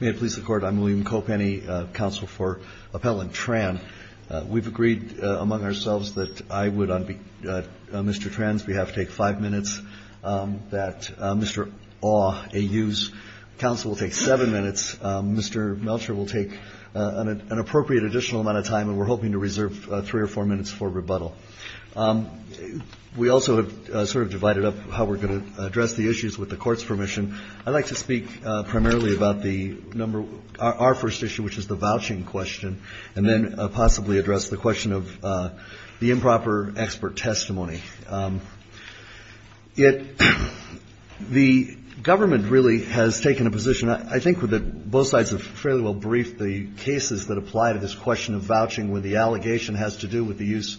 May it please the Court, I'm William Kopenny, Counsel for Appellant Tran. We've agreed among ourselves that I would, on Mr. Tran's behalf, take five minutes, that Mr. Aw, AU's counsel, will take seven minutes, Mr. Melcher will take an appropriate additional amount of time, and we're hoping to reserve three or four minutes for rebuttal. We also have sort of divided up how we're going to address the issues with the Court's permission. I'd like to speak primarily about our first issue, which is the vouching question, and then possibly address the question of the improper expert testimony. The government really has taken a position, I think both sides have fairly well briefed, the cases that apply to this question of vouching where the allegation has to do with the use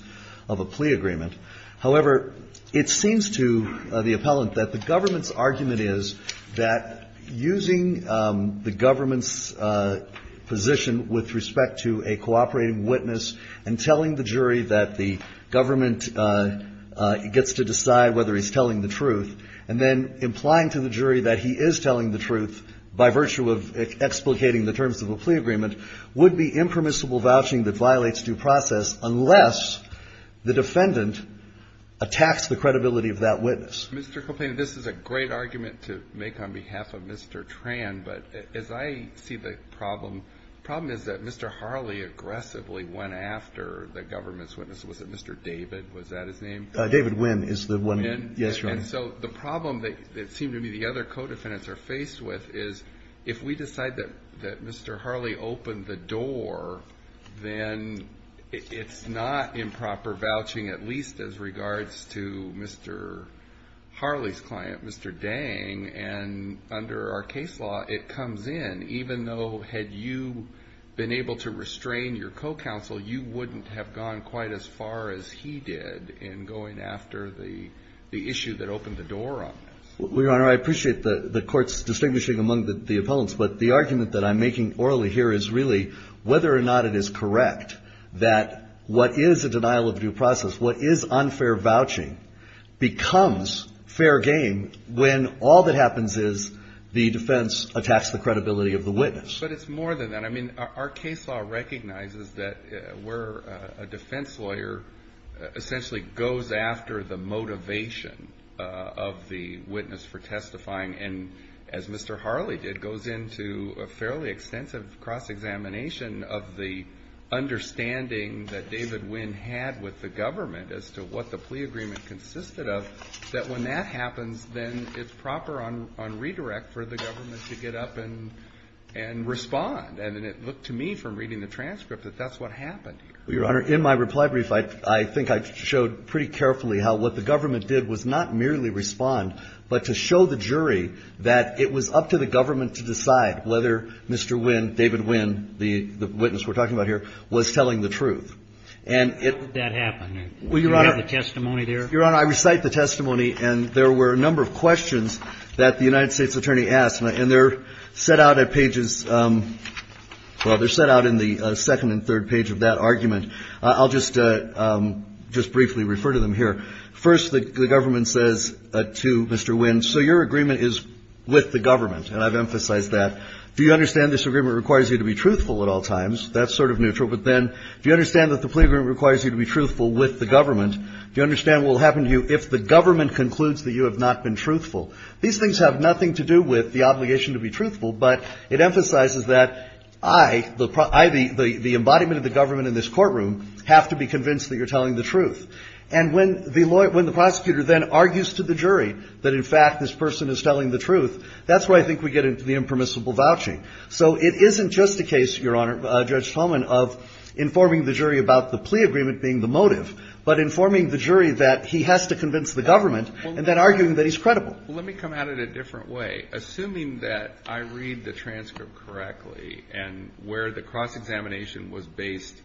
of a plea agreement. However, it seems to the appellant that the government's argument is that using the government's position with respect to a cooperating witness and telling the jury that the government gets to decide whether he's telling the truth, and then implying to the jury that he is telling the truth by virtue of explicating the terms of a plea agreement, would be impermissible vouching that violates due process unless the defendant attacks the credibility of that witness. Mr. Copeland, this is a great argument to make on behalf of Mr. Tran, but as I see the problem, the problem is that Mr. Harley aggressively went after the government's witness. Was it Mr. David? Was that his name? David Wynn is the one. Yes, Your Honor. And so the problem that it seemed to me the other co-defendants are faced with is if we decide that Mr. Harley opened the door, then it's not improper vouching, at least as regards to Mr. Harley's client, Mr. Dang. And under our case law, it comes in. Even though had you been able to restrain your co-counsel, you wouldn't have gone quite as far as he did in going after the issue that opened the door on this. Well, Your Honor, I appreciate the Court's distinguishing among the opponents, but the argument that I'm making orally here is really whether or not it is correct that what is a denial of due process, what is unfair vouching, becomes fair game when all that happens is the defense attacks the credibility of the witness. But it's more than that. I mean, our case law recognizes that where a defense lawyer essentially goes after the motivation of the witness for testifying and, as Mr. Harley did, goes into a fairly extensive cross-examination of the understanding that David Wynn had with the government as to what the plea agreement consisted of, that when that happens, then it's proper on redirect for the government to get up and respond. And it looked to me from reading the transcript that that's what happened here. Well, Your Honor, in my reply brief, I think I showed pretty carefully how what the government did was not merely respond, but to show the jury that it was up to the government to decide whether Mr. Wynn, David Wynn, the witness we're talking about here, was telling the truth. And it — How did that happen? Well, Your Honor — Do you have a testimony there? Your Honor, I recite the testimony. And there were a number of questions that the United States attorney asked. And they're set out at pages — well, they're set out in the second and third page of that argument. I'll just briefly refer to them here. First, the government says to Mr. Wynn, so your agreement is with the government. And I've emphasized that. Do you understand this agreement requires you to be truthful at all times? That's sort of neutral. But then do you understand that the plea agreement requires you to be truthful with the government? Do you understand what will happen to you if the government concludes that you have not been truthful? These things have nothing to do with the obligation to be truthful, but it emphasizes that I, the embodiment of the government in this courtroom, have to be convinced that you're telling the truth. And when the prosecutor then argues to the jury that, in fact, this person is telling the truth, that's where I think we get into the impermissible vouching. So it isn't just a case, Your Honor, Judge Tolman, of informing the jury about the plea agreement being the motive, but informing the jury that he has to convince the government and then arguing that he's credible. Well, let me come at it a different way. Assuming that I read the transcript correctly and where the cross-examination was based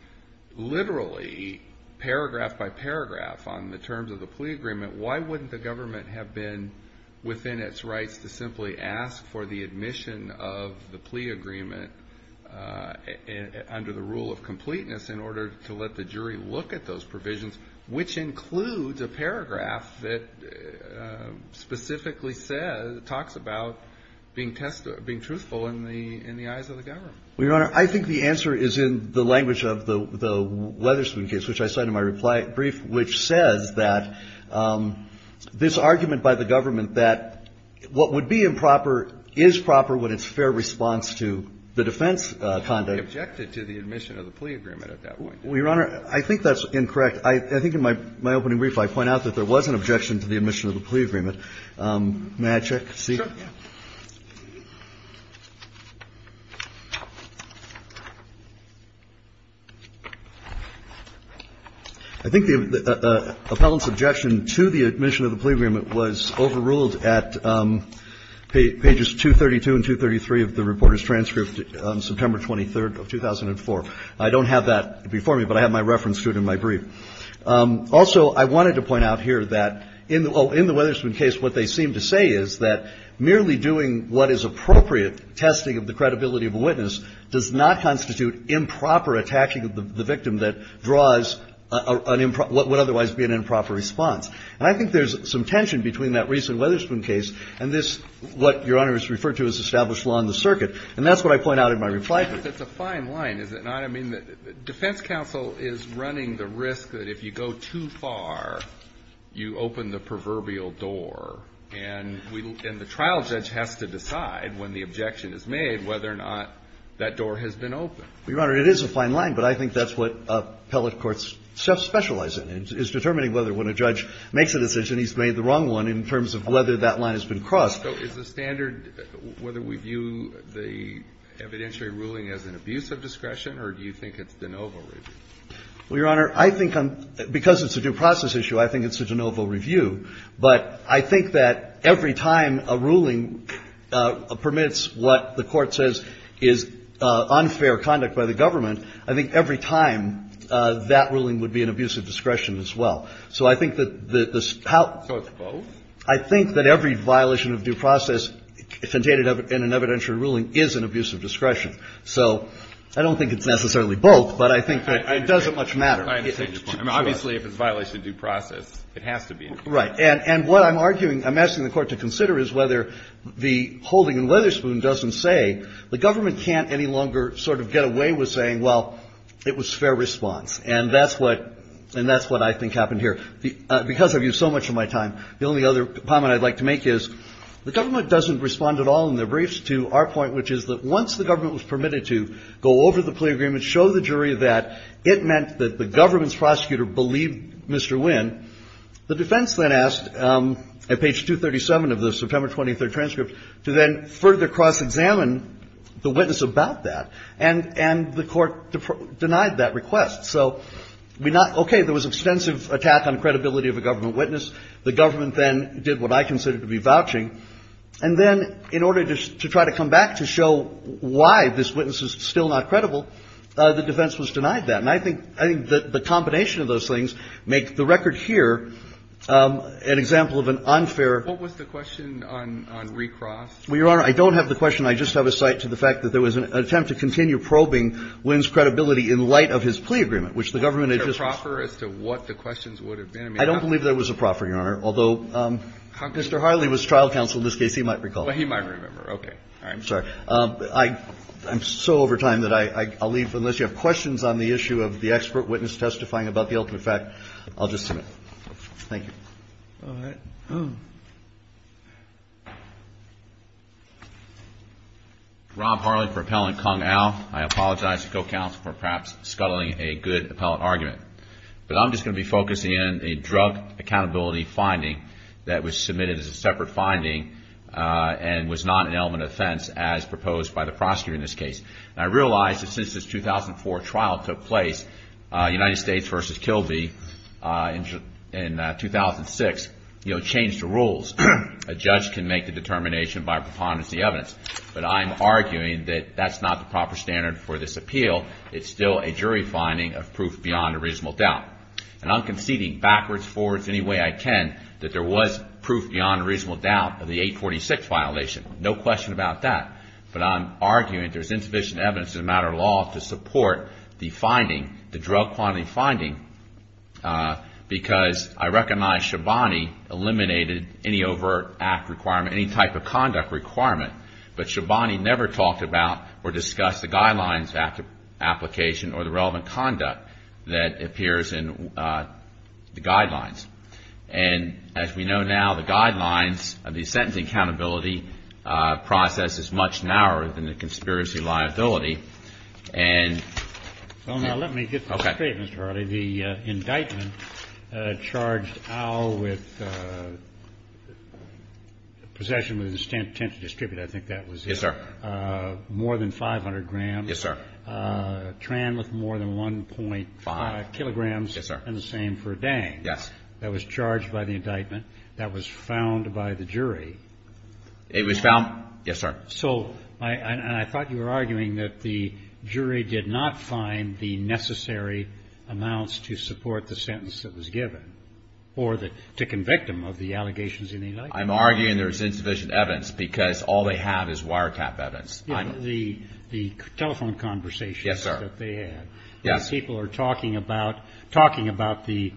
literally paragraph by paragraph on the terms of the plea agreement, why wouldn't the government have been within its rights to simply ask for the admission of the plea agreement under the rule of completeness in order to let the jury look at those provisions, which includes a paragraph that specifically says, talks about being truthful in the eyes of the government? Well, Your Honor, I think the answer is in the language of the Weatherspoon case, which I cite in my reply brief, which says that this argument by the government that what would be improper is proper when it's fair response to the defense conduct. Objected to the admission of the plea agreement at that point. Well, Your Honor, I think that's incorrect. I think in my opening brief I point out that there was an objection to the admission of the plea agreement. May I check to see? Sure. I think the appellant's objection to the admission of the plea agreement was overruled at pages 232 and 233 of the reporter's transcript on September 23rd of 2004. I don't have that before me, but I have my reference to it in my brief. Also, I wanted to point out here that in the Weatherspoon case what they seem to say is that merely doing what is appropriate testing of the credibility of a witness does not constitute improper attacking of the victim that draws an improper – what would otherwise be an improper response. And I think there's some tension between that recent Weatherspoon case and this, what Your Honor has referred to as established law in the circuit. And that's what I point out in my reply brief. But it's a fine line, is it not? I mean, the defense counsel is running the risk that if you go too far, you open the proverbial door, and the trial judge has to decide when the objection is made whether or not that door has been opened. Your Honor, it is a fine line, but I think that's what appellate courts specialize in, is determining whether when a judge makes a decision he's made the wrong one in terms of whether that line has been crossed. So is the standard, whether we view the evidentiary ruling as an abuse of discretion or do you think it's de novo review? Well, Your Honor, I think because it's a due process issue, I think it's a de novo review, but I think that every time a ruling permits what the Court says is unfair conduct by the government, I think every time that ruling would be an abuse of discretion as well. So I think that the – So it's both? I think that every violation of due process dictated in an evidentiary ruling is an abuse of discretion. So I don't think it's necessarily both, but I think that it doesn't much matter. I understand your point. I mean, obviously, if it's a violation of due process, it has to be an abuse of discretion. Right. And what I'm arguing, I'm asking the Court to consider is whether the holding in Witherspoon doesn't say the government can't any longer sort of get away with saying, well, it was fair response. And that's what – and that's what I think happened here. I think that the – because I've used so much of my time, the only other comment I'd like to make is the government doesn't respond at all in their briefs to our point, which is that once the government was permitted to go over the plea agreement, show the jury that it meant that the government's prosecutor believed Mr. Wynn, the defense then asked, at page 237 of the September 23 transcript, to then further cross-examine the witness about that. And the Court denied that request. So we not – okay. There was extensive attack on credibility of a government witness. The government then did what I consider to be vouching. And then in order to try to come back to show why this witness is still not credible, the defense was denied that. And I think – I think the combination of those things make the record here an example of an unfair – What was the question on recross? Well, Your Honor, I don't have the question. I just have a cite to the fact that there was an attempt to continue probing Wynn's credibility in light of his plea agreement, which the government had just – Was there a proffer as to what the questions would have been? I don't believe there was a proffer, Your Honor, although Mr. Harley was trial counsel in this case. He might recall. Well, he might remember. Okay. All right. I'm sorry. I'm so over time that I'll leave unless you have questions on the issue of the expert witness testifying about the ultimate fact. I'll just submit. Thank you. All right. Rob Harley for Appellant Kung Au. I apologize to the co-counsel for perhaps scuttling a good appellate argument. But I'm just going to be focusing in a drug accountability finding that was submitted as a separate finding and was not an element of offense as proposed by the prosecutor in this case. And I realize that since this 2004 trial took place, United States versus Kilby in 2006, you know, changed the rules. A judge can make the determination by preponderance of the evidence. But I'm arguing that that's not the proper standard for this appeal. It's still a jury finding of proof beyond a reasonable doubt. And I'm conceding backwards, forwards, any way I can that there was proof beyond a reasonable doubt of the 846 violation. No question about that. But I'm arguing there's insufficient evidence as a matter of law to support the finding, the drug quantity finding, because I recognize Shabani eliminated any overt act requirement, any type of conduct requirement. But Shabani never talked about or discussed the guidelines application or the relevant conduct that appears in the guidelines. And as we know now, the guidelines of the sentencing accountability process is much narrower than the conspiracy liability. And Well, now let me get this straight, Mr. Harley. Okay. The indictment charged Al with possession with intent to distribute, I think that was it. Yes, sir. More than 500 grams. Yes, sir. Tran with more than 1.5 kilograms. Yes, sir. And the same for Dang. Yes. That was charged by the indictment. That was found by the jury. It was found. Yes, sir. So I thought you were arguing that the jury did not find the necessary amounts to support the sentence that was given or to convict him of the allegations in the indictment. I'm arguing there's insufficient evidence because all they have is wiretap evidence. The telephone conversations that they had. Yes, sir. Yes. People are talking about the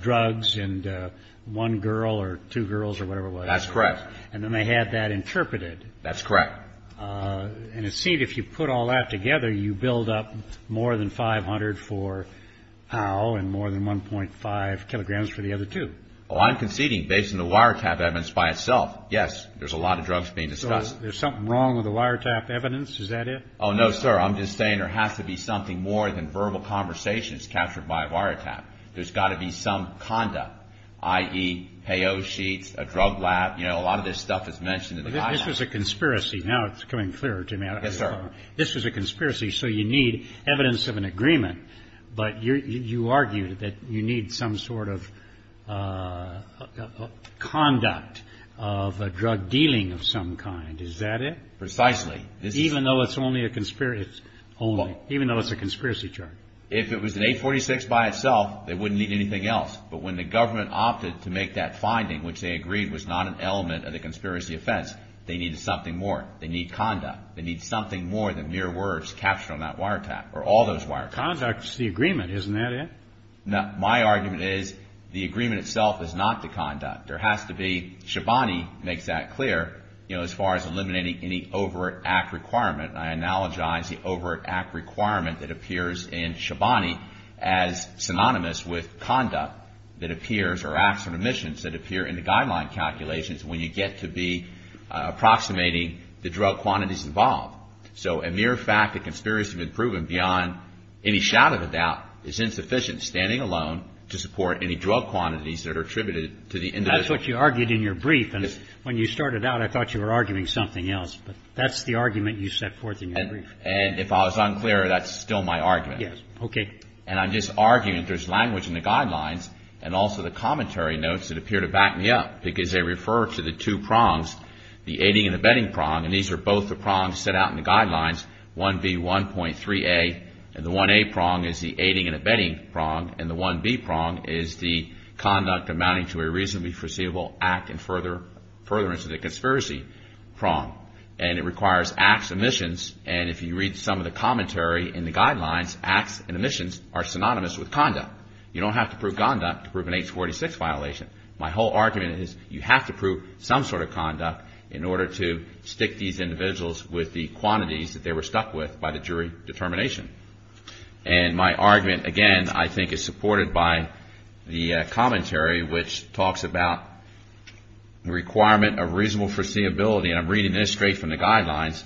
drugs and one girl or two girls or whatever it was. That's correct. And then they had that interpreted. That's correct. And it seemed if you put all that together, you build up more than 500 for Al and more than 1.5 kilograms for the other two. Oh, I'm conceding based on the wiretap evidence by itself. Yes, there's a lot of drugs being discussed. So there's something wrong with the wiretap evidence? Is that it? Oh, no, sir. I'm just saying there has to be something more than verbal conversations captured by a wiretap. There's got to be some conduct, i.e., payo sheets, a drug lab. You know, a lot of this stuff is mentioned in the indictment. This was a conspiracy. Now it's becoming clearer to me. Yes, sir. This was a conspiracy, so you need evidence of an agreement. But you argued that you need some sort of conduct of a drug dealing of some kind. Is that it? Precisely. Even though it's only a conspiracy? Only. Even though it's a conspiracy charge? If it was an 846 by itself, they wouldn't need anything else. But when the government opted to make that finding, which they agreed was not an element of the conspiracy offense, they needed something more. They need conduct. They need something more than mere words captured on that wiretap or all those wiretaps. Conduct is the agreement, isn't that it? No. My argument is the agreement itself is not the conduct. There has to be. Shabani makes that clear, you know, as far as eliminating any overt act requirement. I analogize the overt act requirement that appears in Shabani as synonymous with conduct that appears or acts on omissions that appear in the guideline calculations when you get to be approximating the drug quantities involved. So a mere fact that conspiracy has been proven beyond any shadow of a doubt is insufficient standing alone to support any drug quantities that are attributed to the individual. That's what you argued in your brief. Yes. When you started out, I thought you were arguing something else. But that's the argument you set forth in your brief. And if I was unclear, that's still my argument. Yes. Okay. And I'm just arguing there's language in the guidelines and also the commentary notes that appear to back me up because they refer to the two prongs, the aiding and abetting prong. And these are both the prongs set out in the guidelines, 1B, 1.3A. And the 1A prong is the aiding and abetting prong. And the 1B prong is the conduct amounting to a reasonably foreseeable act and furtherance of the conspiracy prong. And it requires acts, omissions. And if you read some of the commentary in the guidelines, acts and omissions are synonymous with conduct. You don't have to prove conduct to prove an H-486 violation. My whole argument is you have to prove some sort of conduct in order to stick these individuals with the quantities that they were stuck with by the jury determination. And my argument, again, I think is supported by the commentary, which talks about the requirement of reasonable foreseeability. And I'm reading this straight from the guidelines.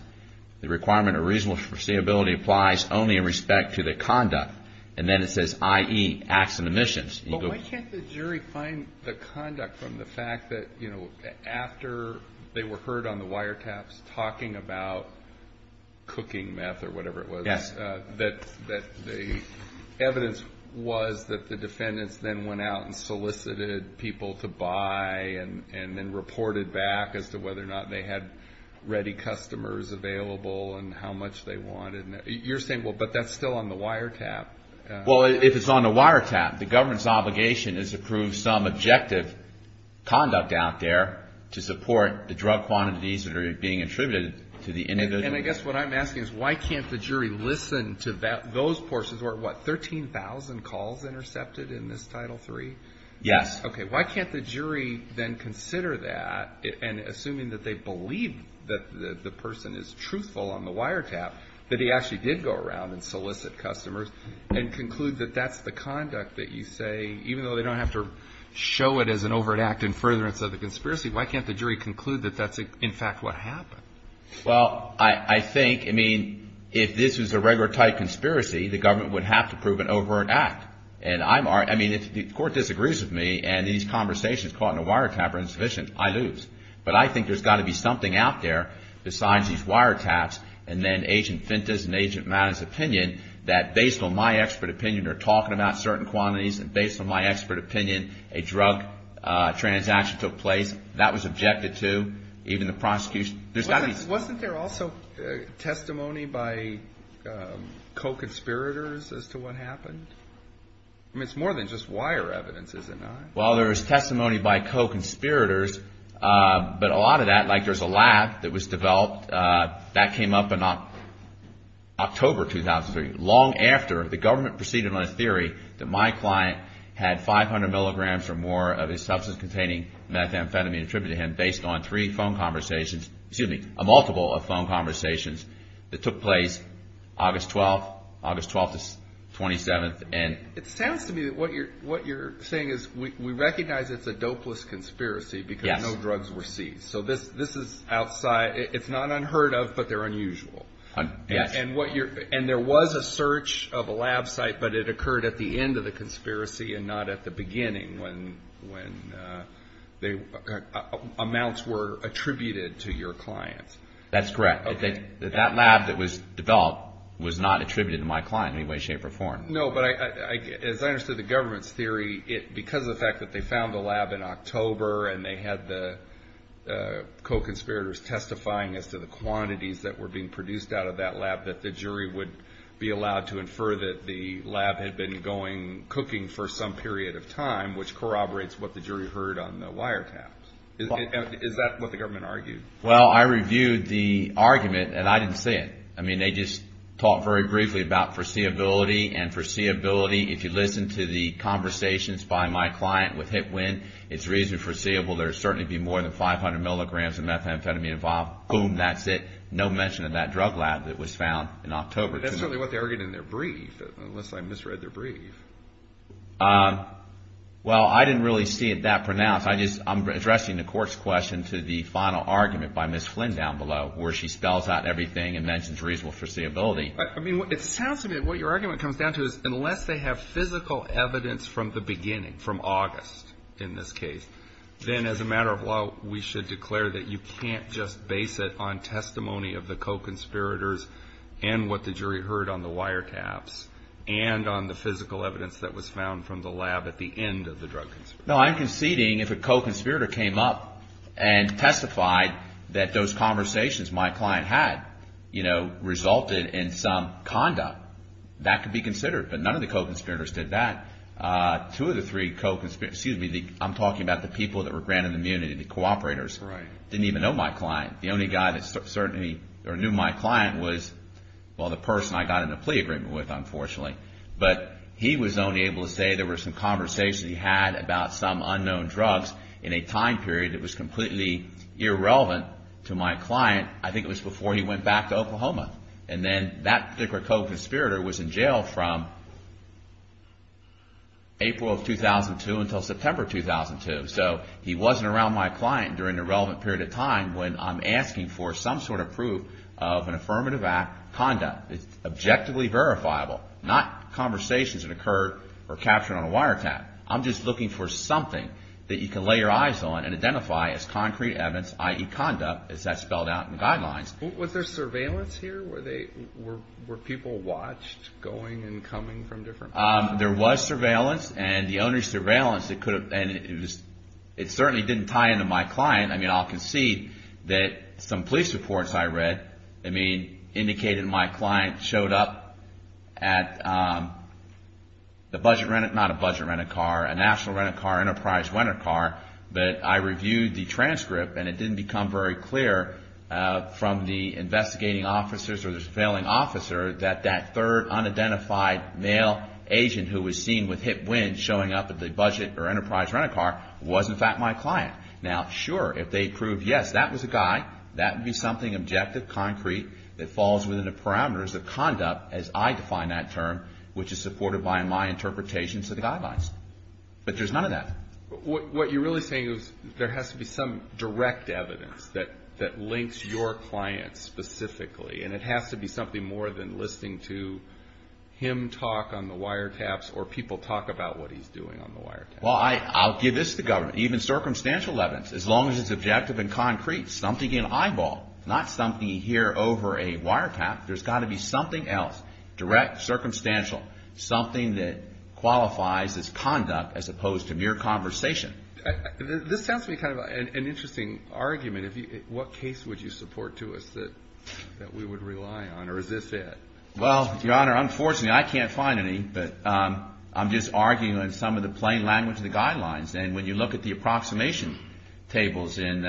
The requirement of reasonable foreseeability applies only in respect to the conduct. And then it says, i.e., acts and omissions. But why can't the jury find the conduct from the fact that, you know, after they were heard on the wiretaps talking about cooking meth or whatever it was, that the evidence was that the defendants then went out and solicited people to buy and then reported back as to whether or not they had ready customers available and how much they wanted. You're saying, well, but that's still on the wiretap. Well, if it's on the wiretap, the government's obligation is to prove some objective conduct out there to support the drug quantities that are being attributed to the individual. And I guess what I'm asking is why can't the jury listen to those portions? What, 13,000 calls intercepted in this Title III? Yes. Okay. Why can't the jury then consider that, and assuming that they believe that the person is truthful on the wiretap, that he actually did go around and solicit customers and conclude that that's the conduct that you say, even though they don't have to show it as an overt act in furtherance of the conspiracy, why can't the jury conclude that that's, in fact, what happened? Well, I think, I mean, if this was a regular type conspiracy, the government would have to prove an overt act. And I'm, I mean, if the court disagrees with me and these conversations caught in a wiretap are insufficient, I lose. But I think there's got to be something out there besides these wiretaps and then Agent Fintas and Agent Madden's opinion that based on my expert opinion, they're talking about certain quantities, and based on my expert opinion, a drug transaction took place. That was objected to, even the prosecution. Wasn't there also testimony by co-conspirators as to what happened? I mean, it's more than just wire evidence, is it not? Well, there's testimony by co-conspirators, but a lot of that, like there's a lab that was developed. That came up in October 2003, long after the government proceeded on a theory that my client had 500 milligrams or more of his substance-containing methamphetamine attributed to him based on three phone conversations, excuse me, a multiple of phone conversations that took place August 12th, August 12th to 27th. It sounds to me that what you're saying is we recognize it's a dopeless conspiracy because no drugs were seized. So this is outside, it's not unheard of, but they're unusual. And there was a search of a lab site, but it occurred at the end of the conspiracy and not at the beginning when amounts were attributed to your client. That's correct. That lab that was developed was not attributed to my client in any way, shape, or form. No, but as I understood the government's theory, because of the fact that they found the lab in October and they had the co-conspirators testifying as to the quantities that were being produced out of that lab, that the jury would be allowed to infer that the lab had been cooking for some period of time, which corroborates what the jury heard on the wiretaps. Is that what the government argued? Well, I reviewed the argument, and I didn't say it. I mean, they just talked very briefly about foreseeability and foreseeability. If you listen to the conversations by my client with HIPWIN, it's reasonably foreseeable there would certainly be more than 500 milligrams of methamphetamine involved. Boom, that's it. No mention of that drug lab that was found in October. But that's certainly what they argued in their brief, unless I misread their brief. Well, I didn't really see it that pronounced. I'm addressing the court's question to the final argument by Ms. Flynn down below, where she spells out everything and mentions reasonable foreseeability. I mean, it sounds to me that what your argument comes down to is unless they have physical evidence from the beginning, from August in this case, then as a matter of law, we should declare that you can't just base it on testimony of the co-conspirators and what the jury heard on the wiretaps, and on the physical evidence that was found from the lab at the end of the drug conspiracy. No, I'm conceding if a co-conspirator came up and testified that those conversations my client had, you know, resulted in some conduct, that could be considered. But none of the co-conspirators did that. Two of the three co-conspirators, excuse me, I'm talking about the people that were granted immunity, the cooperators, didn't even know my client. The only guy that certainly knew my client was, well, the person I got in a plea agreement with, unfortunately. But he was only able to say there were some conversations he had about some unknown drugs in a time period that was completely irrelevant to my client. I think it was before he went back to Oklahoma. And then that particular co-conspirator was in jail from April of 2002 until September of 2002. So he wasn't around my client during a relevant period of time when I'm asking for some sort of proof of an affirmative act conduct. It's objectively verifiable, not conversations that occur or are captured on a wiretap. I'm just looking for something that you can lay your eyes on and identify as concrete evidence, i.e. conduct, as that's spelled out in the guidelines. Was there surveillance here? Were people watched going and coming from different places? There was surveillance. And the only surveillance that could have been, it certainly didn't tie into my client. I'll concede that some police reports I read indicated my client showed up at a budget-rented car, a national-rented car, enterprise-rented car, but I reviewed the transcript and it didn't become very clear from the investigating officers or the surveilling officer that that third unidentified male agent who was seen with hip winds showing up at the budget or enterprise-rented car was, in fact, my client. Now, sure, if they proved, yes, that was a guy, that would be something objective, concrete, that falls within the parameters of conduct as I define that term, which is supported by my interpretations of the guidelines. But there's none of that. What you're really saying is there has to be some direct evidence that links your client specifically, and it has to be something more than listening to him talk on the wiretaps or people talk about what he's doing on the wiretaps. Well, I'll give this to government, even circumstantial evidence, as long as it's objective and concrete, something you can eyeball, not something you hear over a wiretap. There's got to be something else, direct, circumstantial, something that qualifies as conduct as opposed to mere conversation. This sounds to me kind of an interesting argument. What case would you support to us that we would rely on, or is this it? Well, Your Honor, unfortunately, I can't find any, but I'm just arguing on some of the plain language of the guidelines, and when you look at the approximation tables in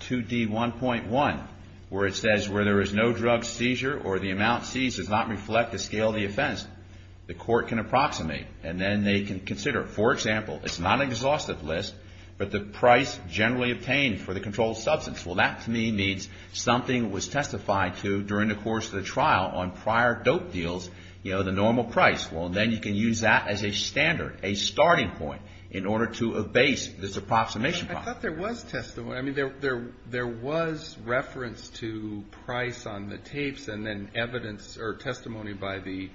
2D1.1, where it says where there is no drug seizure or the amount seized does not reflect the scale of the offense, the court can approximate, and then they can consider. For example, it's not an exhaustive list, but the price generally obtained for the controlled substance. Well, that to me means something was testified to during the course of the trial on prior dope deals, you know, the normal price. Well, then you can use that as a standard, a starting point, in order to abase this approximation problem. I thought there was testimony. I mean, there was reference to price on the tapes and then evidence or testimony by the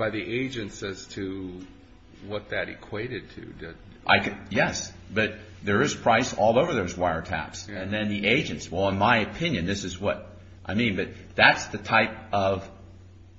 agents as to what that equated to. Yes, but there is price all over those wiretaps, and then the agents. Well, in my opinion, this is what I mean, but that's the type of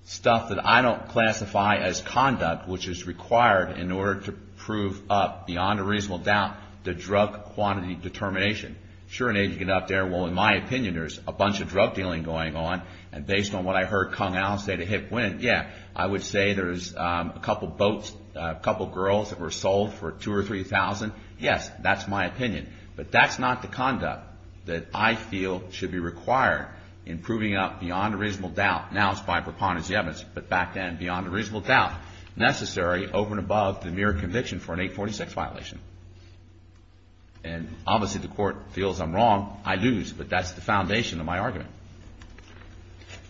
stuff that I don't classify as conduct, which is required in order to prove up, beyond a reasonable doubt, the drug quantity determination. Sure, an agent can get up there. Well, in my opinion, there's a bunch of drug dealing going on, and based on what I heard Kung Al say to Hick Win, yeah, I would say there's a couple boats, a couple girls that were sold for $2,000 or $3,000. Yes, that's my opinion. But that's not the conduct that I feel should be required in proving it up beyond a reasonable doubt. Now it's by preponderance of the evidence, but back then, beyond a reasonable doubt, necessary over and above the mere conviction for an 846 violation. And obviously the Court feels I'm wrong. I lose, but that's the foundation of my argument.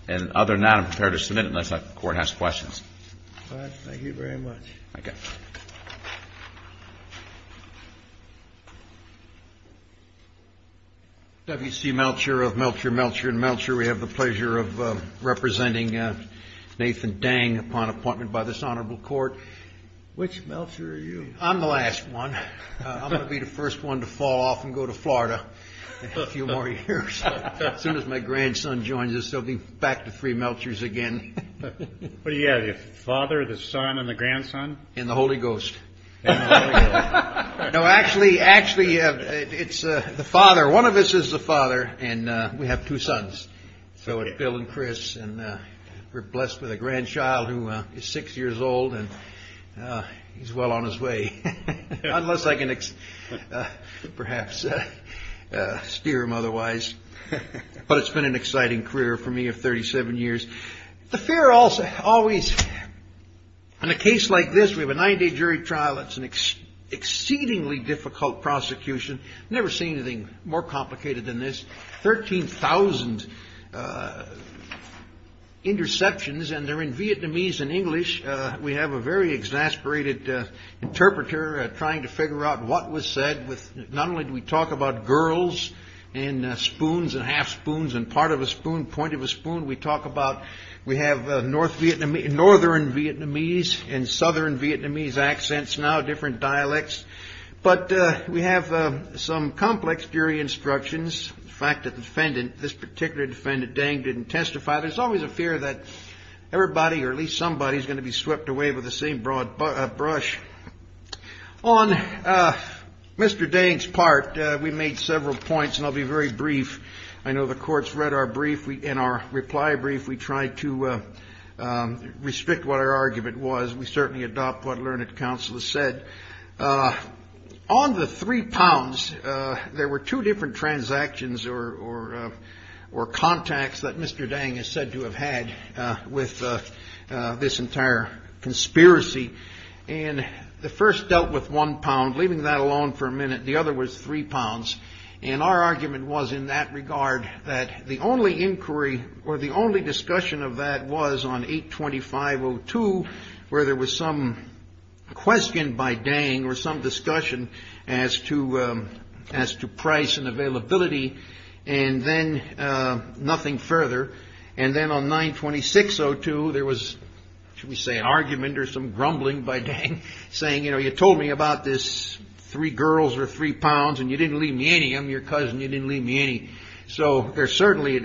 And other than that, I'm prepared to submit unless the Court has questions. All right. Thank you very much. Thank you. W.C. Melcher of Melcher, Melcher, and Melcher. We have the pleasure of representing Nathan Dang upon appointment by this Honorable Court. Which Melcher are you? I'm the last one. I'm going to be the first one to fall off and go to Florida in a few more years. As soon as my grandson joins us, they'll be back to three Melchers again. What do you have, your father, the son, and the grandson? And the Holy Ghost. No, actually, it's the father. One of us is the father, and we have two sons. So it's Bill and Chris, and we're blessed with a grandchild who is six years old, and he's well on his way, unless I can perhaps steer him otherwise. But it's been an exciting career for me of 37 years. The fair also always, in a case like this, we have a nine-day jury trial. It's an exceedingly difficult prosecution. Never seen anything more complicated than this. 13,000 interceptions, and they're in Vietnamese and English. We have a very exasperated interpreter trying to figure out what was said. Not only do we talk about girls and spoons and half spoons and part of a spoon, point of a spoon, we have northern Vietnamese and southern Vietnamese accents now, different dialects. But we have some complex jury instructions. The fact that this particular defendant, Dang, didn't testify, there's always a fear that everybody, or at least somebody, is going to be swept away with the same broad brush. On Mr. Dang's part, we made several points, and I'll be very brief. I know the court's read our brief and our reply brief. We tried to restrict what our argument was. We certainly adopt what Learned Counsel has said. On the three pounds, there were two different transactions or contacts that Mr. Dang is said to have had with this entire conspiracy. And the first dealt with one pound, leaving that alone for a minute. The other was three pounds. And our argument was in that regard, that the only inquiry or the only discussion of that was on 825.02, where there was some question by Dang or some discussion as to price and availability, and then nothing further. And then on 926.02, there was, shall we say, an argument or some grumbling by Dang, saying, you know, you told me about this three girls or three pounds, and you didn't leave me any. I'm your cousin. You didn't leave me any. So it certainly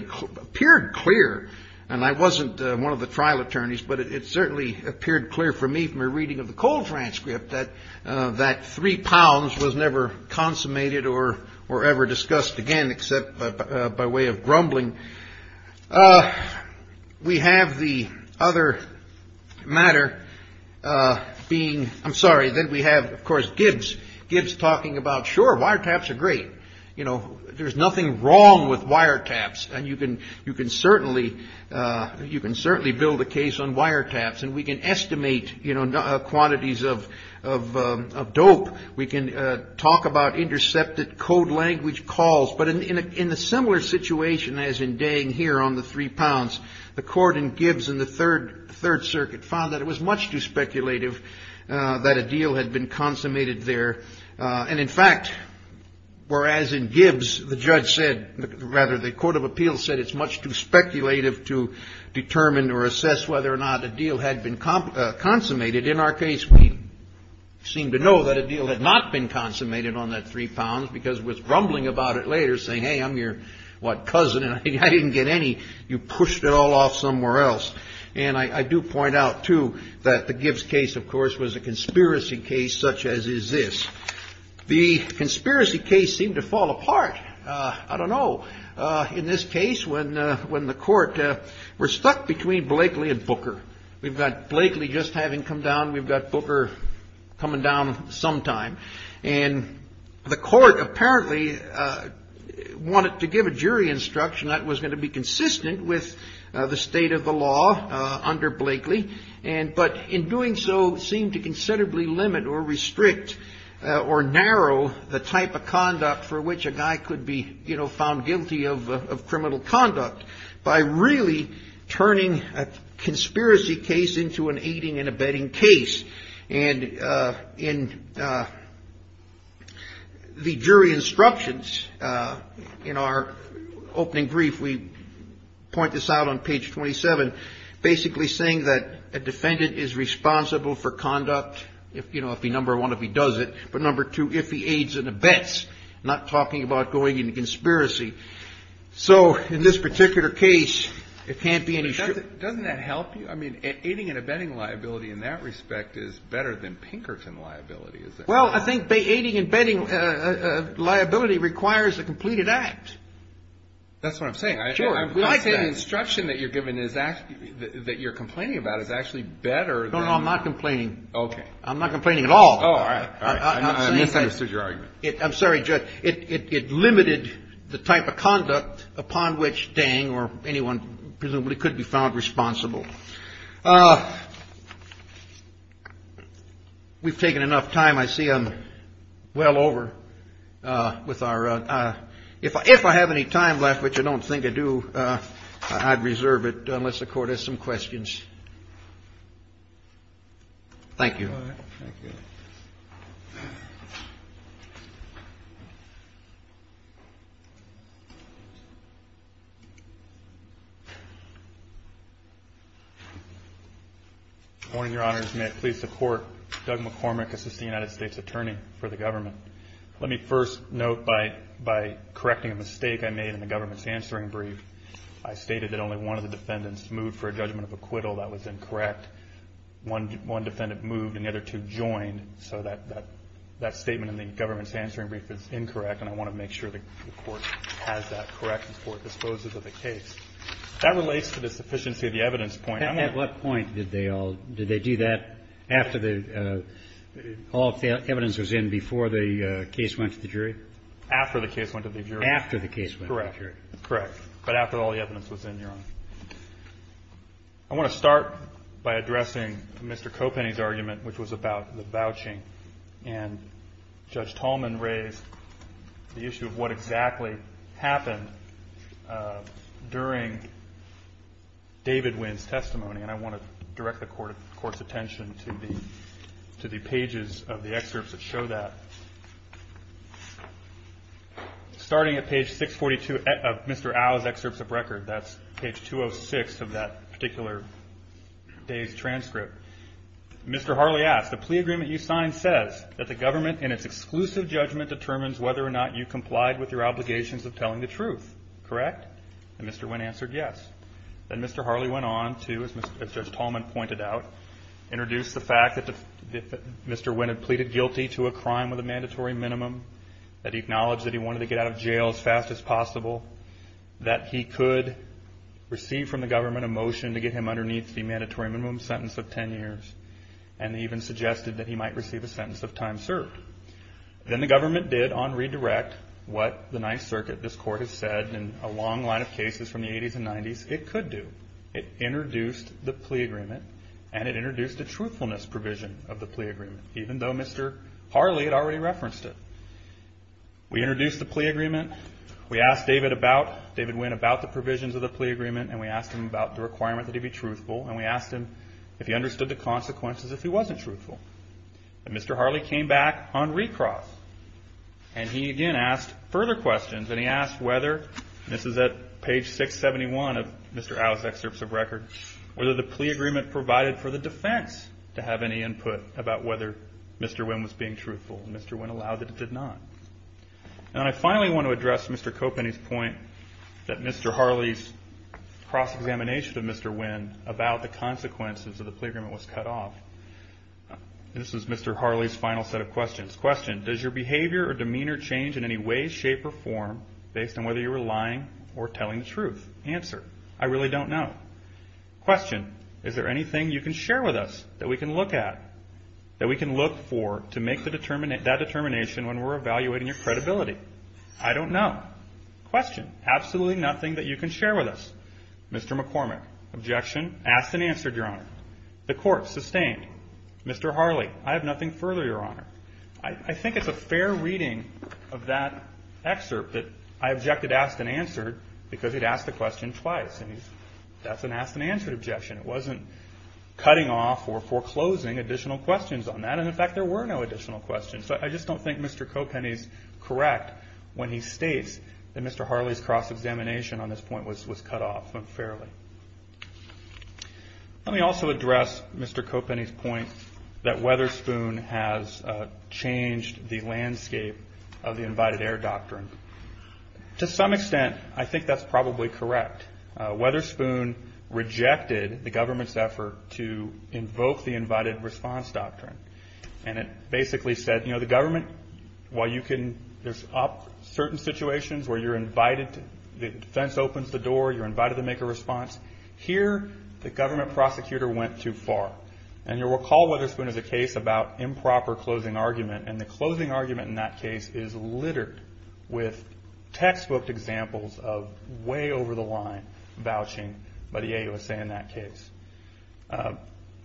appeared clear, and I wasn't one of the trial attorneys, but it certainly appeared clear for me from a reading of the cold transcript that three pounds was never consummated or ever discussed again, except by way of grumbling. We have the other matter being, I'm sorry, then we have, of course, Gibbs. Gibbs talking about, sure, wiretaps are great. You know, there's nothing wrong with wiretaps, and you can certainly build a case on wiretaps, and we can estimate quantities of dope. We can talk about intercepted code language calls. But in a similar situation as in Dang here on the three pounds, the court in Gibbs in the Third Circuit found that it was much too speculative that a deal had been consummated there. And, in fact, whereas in Gibbs the judge said, rather, the court of appeals said it's much too speculative to determine or assess whether or not a deal had been consummated, in our case we seem to know that a deal had not been consummated on that three pounds because it was grumbling about it later saying, hey, I'm your, what, cousin, and I didn't get any. You pushed it all off somewhere else. And I do point out, too, that the Gibbs case, of course, was a conspiracy case such as is this. The conspiracy case seemed to fall apart. I don't know. In this case, when the court, we're stuck between Blakely and Booker. We've got Blakely just having come down. We've got Booker coming down sometime. And the court apparently wanted to give a jury instruction that was going to be consistent with the state of the law under Blakely, but in doing so seemed to considerably limit or restrict or narrow the type of conduct for which a guy could be, you know, into an aiding and abetting case. And in the jury instructions in our opening brief, we point this out on page 27, basically saying that a defendant is responsible for conduct, you know, if he, number one, if he does it, but number two, if he aids and abets, not talking about going into conspiracy. So in this particular case, it can't be an issue. Doesn't that help you? I mean, aiding and abetting liability in that respect is better than Pinkerton liability, is it? Well, I think aiding and abetting liability requires a completed act. That's what I'm saying. Sure. I like that. I'm saying the instruction that you're giving is actually, that you're complaining about is actually better than. No, no, I'm not complaining. Okay. I'm not complaining at all. Oh, all right. I misunderstood your argument. I'm sorry, Judge. It limited the type of conduct upon which Dang or anyone presumably could be found responsible. We've taken enough time. I see I'm well over with our ‑‑ if I have any time left, which I don't think I do, I'd reserve it unless the Court has some questions. Thank you. All right. Thank you. Thank you. Good morning, Your Honors. May I please support Doug McCormick as the United States Attorney for the government? Let me first note by correcting a mistake I made in the government's answering brief, I stated that only one of the defendants moved for a judgment of acquittal. That was incorrect. One defendant moved and the other two joined. So that statement in the government's answering brief is incorrect, and I want to make sure the Court has that correct before it disposes of the case. That relates to the sufficiency of the evidence point. At what point did they all ‑‑ did they do that after all the evidence was in before the case went to the jury? After the case went to the jury. After the case went to the jury. Correct. Correct. But after all the evidence was in, Your Honor. I want to start by addressing Mr. Copenny's argument, which was about the vouching, and Judge Tolman raised the issue of what exactly happened during David Winn's testimony, and I want to direct the Court's attention to the pages of the excerpts that show that. Starting at page 642 of Mr. Au's excerpts of record, that's page 206 of that particular day's transcript, Mr. Harley asked, The plea agreement you signed says that the government in its exclusive judgment determines whether or not you complied with your obligations of telling the truth. Correct? And Mr. Winn answered yes. Then Mr. Harley went on to, as Judge Tolman pointed out, introduce the fact that Mr. Winn had pleaded guilty to a crime with a mandatory minimum, that he acknowledged that he wanted to get out of jail as fast as possible, that he could receive from the government a motion to get him underneath the mandatory minimum sentence of 10 years, and even suggested that he might receive a sentence of time served. Then the government did, on redirect, what the Ninth Circuit, this Court has said, in a long line of cases from the 80s and 90s, it could do. It introduced the plea agreement, and it introduced a truthfulness provision of the plea agreement, even though Mr. Harley had already referenced it. We introduced the plea agreement. We asked David Winn about the provisions of the plea agreement, and we asked him about the requirement that he be truthful, and we asked him if he understood the consequences if he wasn't truthful. And Mr. Harley came back on recross, and he again asked further questions, and he asked whether, and this is at page 671 of Mr. Au's excerpts of record, whether the plea agreement provided for the defense to have any input about whether Mr. Winn was being truthful, and Mr. Winn allowed that it did not. And I finally want to address Mr. Copenny's point that Mr. Harley's cross-examination of Mr. Winn about the consequences of the plea agreement was cut off. This is Mr. Harley's final set of questions. Question. Does your behavior or demeanor change in any way, shape, or form based on whether you were lying or telling the truth? Answer. I really don't know. Question. Is there anything you can share with us that we can look at, that we can look for to make that determination when we're evaluating your credibility? I don't know. Question. Absolutely nothing that you can share with us. Mr. McCormick. Objection. Asked and answered, Your Honor. The court sustained. Mr. Harley. I have nothing further, Your Honor. I think it's a fair reading of that excerpt that I objected to asked and answered because he'd asked the question twice, and that's an asked and answered objection. It wasn't cutting off or foreclosing additional questions on that, and, in fact, there were no additional questions. So I just don't think Mr. Copenny's correct when he states that Mr. Harley's cross-examination on this point was cut off unfairly. Let me also address Mr. Copenny's point that Weatherspoon has changed the landscape of the invited air doctrine. To some extent, I think that's probably correct. Weatherspoon rejected the government's effort to invoke the invited response doctrine, and it basically said, you know, the government, while you can up certain situations where you're invited, the defense opens the door, you're invited to make a response. Here, the government prosecutor went too far, and you'll recall Weatherspoon has a case about improper closing argument, and the closing argument in that case is littered with textbook examples of way over the line vouching by the AUSA in that case.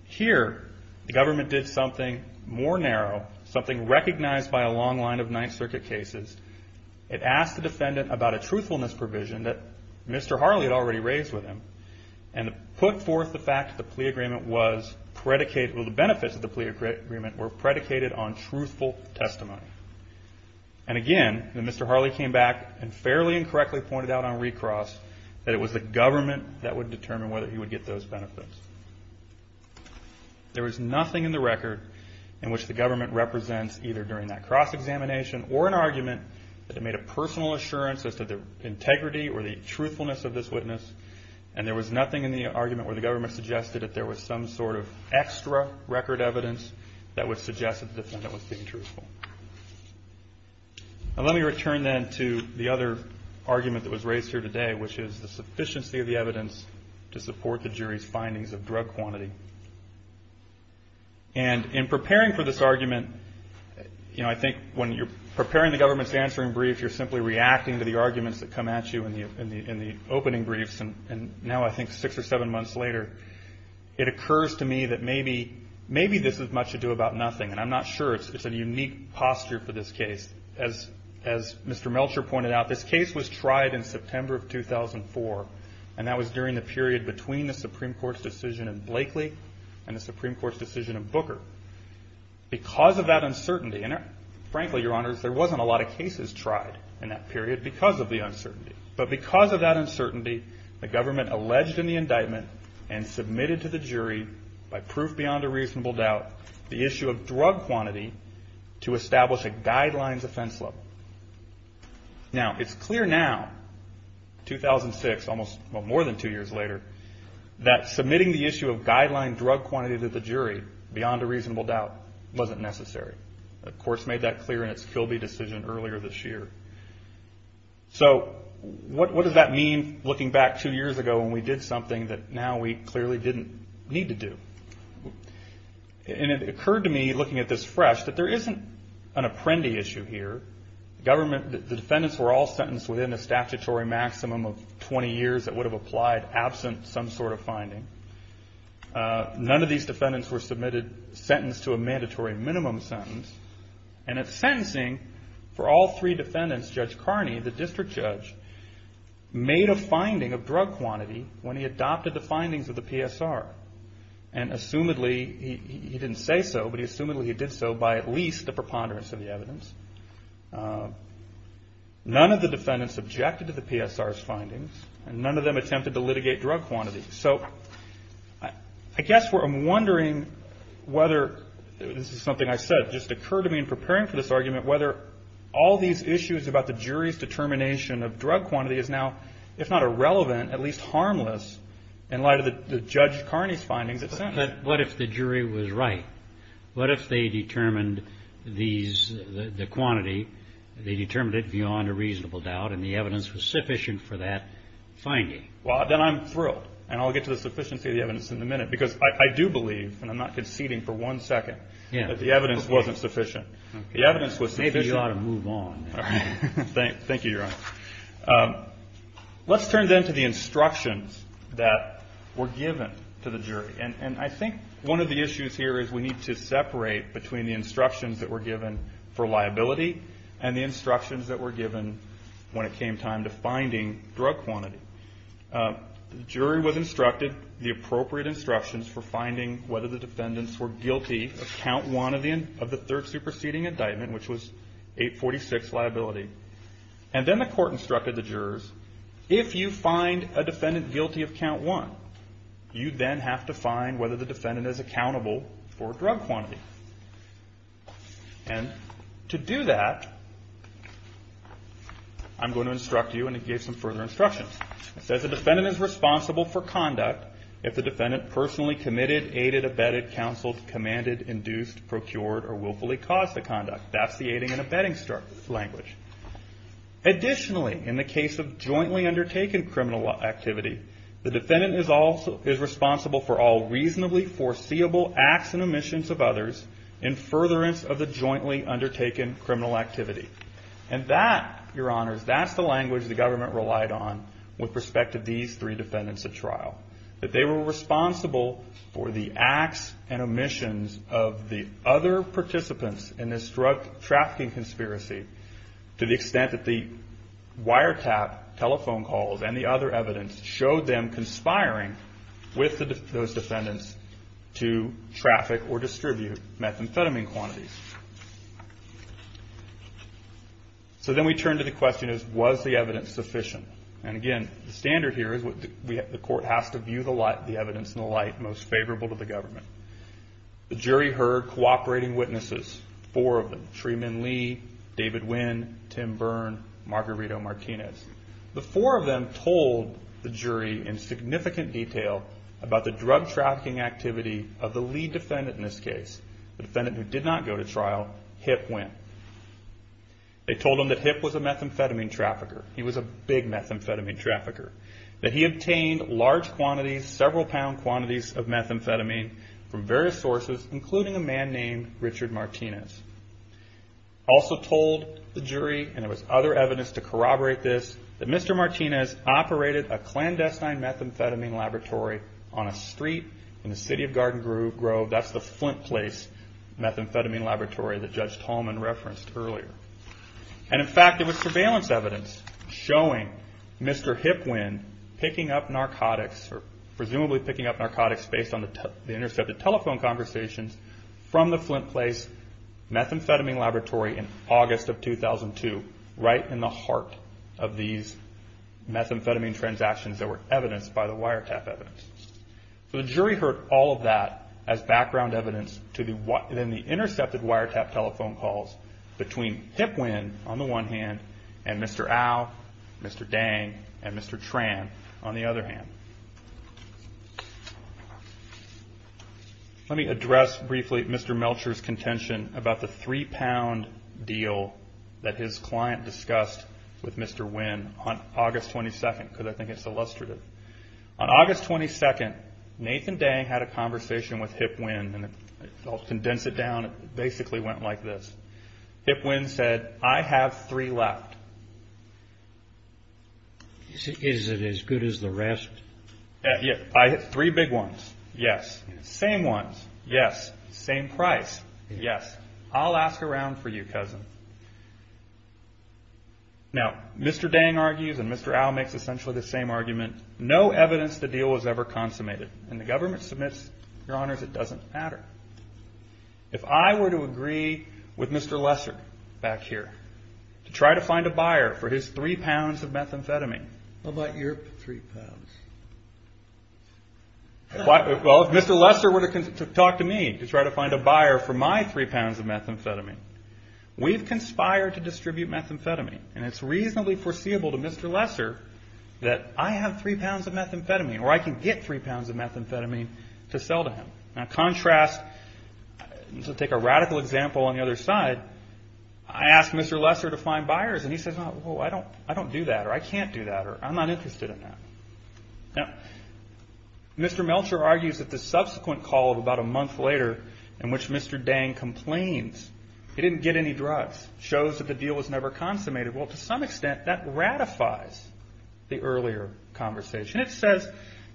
Here, the government did something more narrow, something recognized by a long line of Ninth Circuit cases. It asked the defendant about a truthfulness provision that Mr. Harley had already raised with him, and put forth the fact that the benefits of the plea agreement were predicated on truthful testimony. And again, Mr. Harley came back and fairly and correctly pointed out on recross that it was the government that would determine whether he would get those benefits. There was nothing in the record in which the government represents either during that cross-examination or an argument that made a personal assurance as to the integrity or the truthfulness of this witness, and there was nothing in the argument where the government suggested that there was some sort of extra record evidence that would suggest that the defendant was being truthful. Let me return then to the other argument that was raised here today, which is the sufficiency of the evidence to support the jury's findings of drug quantity. And in preparing for this argument, you know, I think when you're preparing the government's answering brief, you're simply reacting to the arguments that come at you in the opening briefs, and now I think six or seven months later, it occurs to me that maybe this is much ado about nothing, and I'm not sure. It's a unique posture for this case. As Mr. Melcher pointed out, this case was tried in September of 2004, and that was during the period between the Supreme Court's decision in Blakely and the Supreme Court's decision in Booker. Because of that uncertainty, and frankly, Your Honors, there wasn't a lot of cases tried in that period because of the uncertainty, but because of that uncertainty, the government alleged in the indictment and submitted to the jury by proof beyond a reasonable doubt the issue of drug quantity to establish a guidelines offense level. Now, it's clear now, 2006, almost, well, more than two years later, that submitting the issue of guideline drug quantity to the jury beyond a reasonable doubt wasn't necessary. The court's made that clear in its Kilby decision earlier this year. So what does that mean looking back two years ago when we did something that now we clearly didn't need to do? And it occurred to me looking at this fresh that there isn't an apprendee issue here. The defendants were all sentenced within a statutory maximum of 20 years that would have applied, absent some sort of finding. None of these defendants were submitted sentenced to a mandatory minimum sentence. And at sentencing, for all three defendants, Judge Carney, the district judge, made a finding of drug quantity when he adopted the findings of the PSR and assumedly, he didn't say so, but he assumedly did so by at least a preponderance of the evidence. None of the defendants objected to the PSR's findings and none of them attempted to litigate drug quantity. So I guess what I'm wondering whether, this is something I said, just occurred to me in preparing for this argument, whether all these issues about the jury's determination of drug quantity is now, if not irrelevant, at least harmless in light of the Judge Carney's findings at sentence. But what if the jury was right? What if they determined these, the quantity, they determined it beyond a reasonable doubt and the evidence was sufficient for that finding? Well, then I'm thrilled and I'll get to the sufficiency of the evidence in a minute because I do believe, and I'm not conceding for one second, that the evidence wasn't sufficient. The evidence was sufficient. Maybe you ought to move on. Thank you, Your Honor. Let's turn then to the instructions that were given to the jury. And I think one of the issues here is we need to separate between the instructions that were given for liability and the instructions that were given when it came time to finding drug quantity. The jury was instructed the appropriate instructions for finding whether the defendants were guilty of count one of the third superseding indictment, which was 846, liability. And then the court instructed the jurors, if you find a defendant guilty of count one, you then have to find whether the defendant is accountable for drug quantity. And to do that, I'm going to instruct you and give some further instructions. It says the defendant is responsible for conduct if the defendant personally committed, aided, abetted, counseled, commanded, induced, procured, or willfully caused the conduct. That's the aiding and abetting language. Additionally, in the case of jointly undertaken criminal activity, the defendant is responsible for all reasonably foreseeable acts and omissions of others in furtherance of the jointly undertaken criminal activity. And that, Your Honors, that's the language the government relied on with respect to these three defendants at trial. That they were responsible for the acts and omissions of the other participants in this drug trafficking conspiracy to the extent that the wiretap telephone calls and the other evidence showed them conspiring with those defendants to traffic or distribute methamphetamine quantities. So then we turn to the question, was the evidence sufficient? And again, the standard here is the court has to view the evidence in the light most favorable to the government. The jury heard cooperating witnesses, four of them, Shreeman Lee, David Wynn, Tim Byrne, Margarito Martinez. The four of them told the jury in significant detail about the drug trafficking activity of the lead defendant in this case, the defendant who did not go to trial, Hip Wynn. They told him that Hip was a methamphetamine trafficker. He was a big methamphetamine trafficker. That he obtained large quantities, several pound quantities of methamphetamine from various sources, including a man named Richard Martinez. Also told the jury, and there was other evidence to corroborate this, that Mr. Martinez operated a clandestine methamphetamine laboratory on a street in the city of Garden Grove. That's the Flint Place methamphetamine laboratory that Judge Tolman referenced earlier. And in fact, there was surveillance evidence showing Mr. Hip Wynn picking up narcotics, or presumably picking up narcotics based on the intercepted telephone conversations from the Flint Place methamphetamine laboratory in August of 2002, right in the heart of these methamphetamine transactions that were evidenced by the wiretap evidence. So the jury heard all of that as background evidence in the intercepted wiretap telephone calls between Hip Wynn, on the one hand, and Mr. Au, Mr. Dang, and Mr. Tran, on the other hand. Let me address briefly Mr. Melcher's contention about the three pound deal that his client discussed with Mr. Wynn on August 22nd, because I think it's illustrative. On August 22nd, Nathan Dang had a conversation with Hip Wynn, and I'll condense it down, it basically went like this. Hip Wynn said, I have three left. Is it as good as the rest? Three big ones, yes. Same ones, yes. I'll ask around for you, cousin. Now, Mr. Dang argues, and Mr. Au makes essentially the same argument, no evidence the deal was ever consummated. And the government submits, your honors, it doesn't matter. If I were to agree with Mr. Lesser, back here, to try to find a buyer for his three pounds of methamphetamine. What about your three pounds? Well, if Mr. Lesser were to talk to me, to try to find a buyer for my three pounds of methamphetamine, we've conspired to distribute methamphetamine, and it's reasonably foreseeable to Mr. Lesser that I have three pounds of methamphetamine, or I can get three pounds of methamphetamine to sell to him. Now, contrast, to take a radical example on the other side, I ask Mr. Lesser to find buyers, and he says, oh, I don't do that, or I can't do that, or I'm not interested in that. Now, Mr. Melcher argues that the subsequent call of about a month later, in which Mr. Dang complains he didn't get any drugs, shows that the deal was never consummated. Well, to some extent, that ratifies the earlier conversation. It says,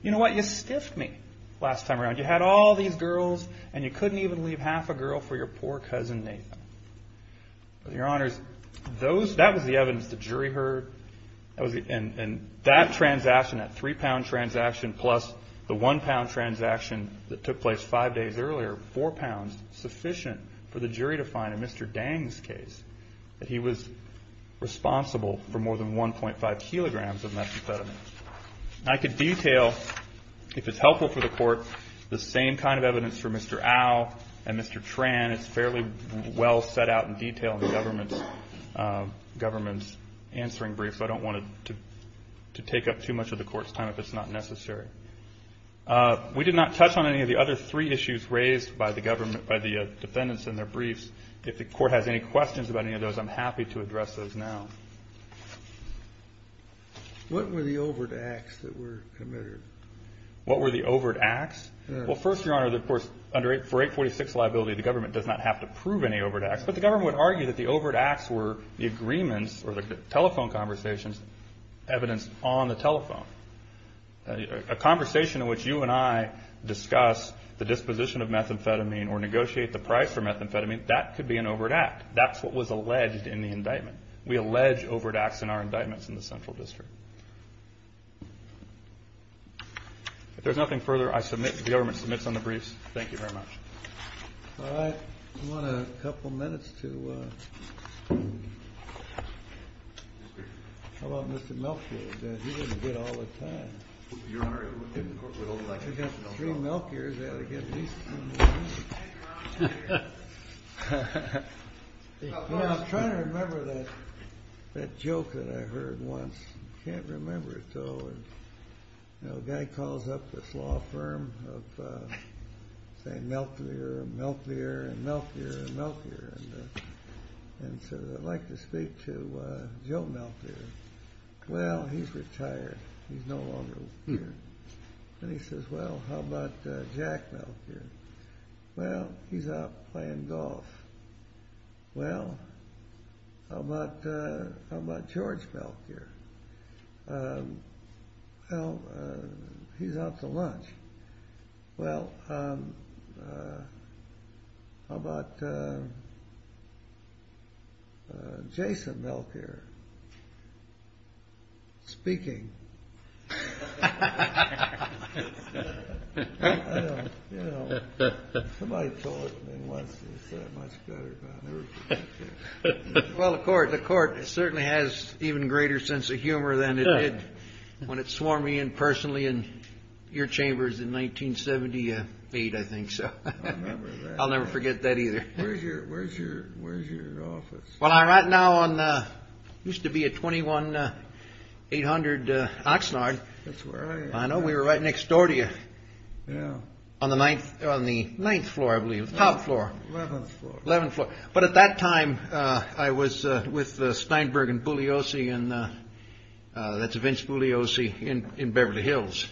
you know what, you stiffed me last time around. You had all these girls, and you couldn't even leave half a girl for your poor cousin Nathan. Your honors, that was the evidence the jury heard, and that transaction, that three-pound transaction, plus the one-pound transaction that took place five days earlier, four pounds sufficient for the jury to find in Mr. Dang's case that he was responsible for more than 1.5 kilograms of methamphetamine. I could detail, if it's helpful for the Court, the same kind of evidence for Mr. Au and Mr. Tran. It's fairly well set out in detail in the government's answering brief, so I don't want to take up too much of the Court's time if it's not necessary. We did not touch on any of the other three issues raised by the defendants in their briefs. If the Court has any questions about any of those, I'm happy to address those now. What were the overt acts that were committed? What were the overt acts? Well, first, your honors, of course, for 846 liability, the government does not have to prove any overt acts, but the government would argue that the overt acts were the agreements or the telephone conversations, evidence on the telephone. A conversation in which you and I discuss the disposition of methamphetamine or negotiate the price for methamphetamine, that could be an overt act. That's what was alleged in the indictment. We allege overt acts in our indictments in the Central District. If there's nothing further, the government submits on the briefs. Thank you very much. All right. I want a couple minutes to... How about Mr. Melchior? He doesn't get all the time. If you got three Melchiors, they ought to get at least three more minutes. I'm trying to remember that joke that I heard once. I can't remember it, though. A guy calls up this law firm of, say, Melchior and Melchior and Melchior and Melchior, and says, I'd like to speak to Joe Melchior. Well, he's retired. He's no longer here. Then he says, well, how about Jack Melchior? Well, he's out playing golf. Well, how about George Melchior? Well, he's out to lunch. Well, how about Jason Melchior? Speaking. I don't know. Somebody told me once. It's much better than that. Well, the court certainly has an even greater sense of humor than it did when it swore me in personally in your chambers in 1978, I think. I'll never forget that either. Where's your office? Well, I'm right now on... It used to be at 21-800 Oxnard. That's where I am. I know. We were right next door to you. On the ninth floor, I believe. Top floor. Eleventh floor. Eleventh floor. But at that time, I was with Steinberg and Bugliosi. That's Vince Bugliosi in Beverly Hills.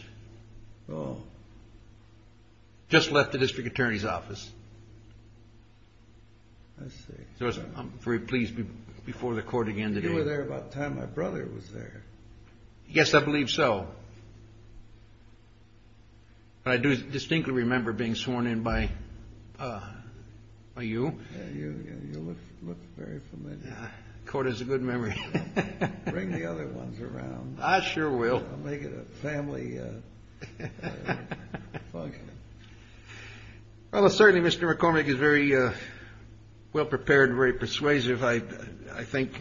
Just left the district attorney's office. I see. I'm very pleased before the court again today. You were there about the time my brother was there. Yes, I believe so. I do distinctly remember being sworn in by you. You look very familiar. The court has a good memory. Bring the other ones around. I sure will. Make it a family function. Well, certainly, Mr. McCormick is very well-prepared and very persuasive, I think,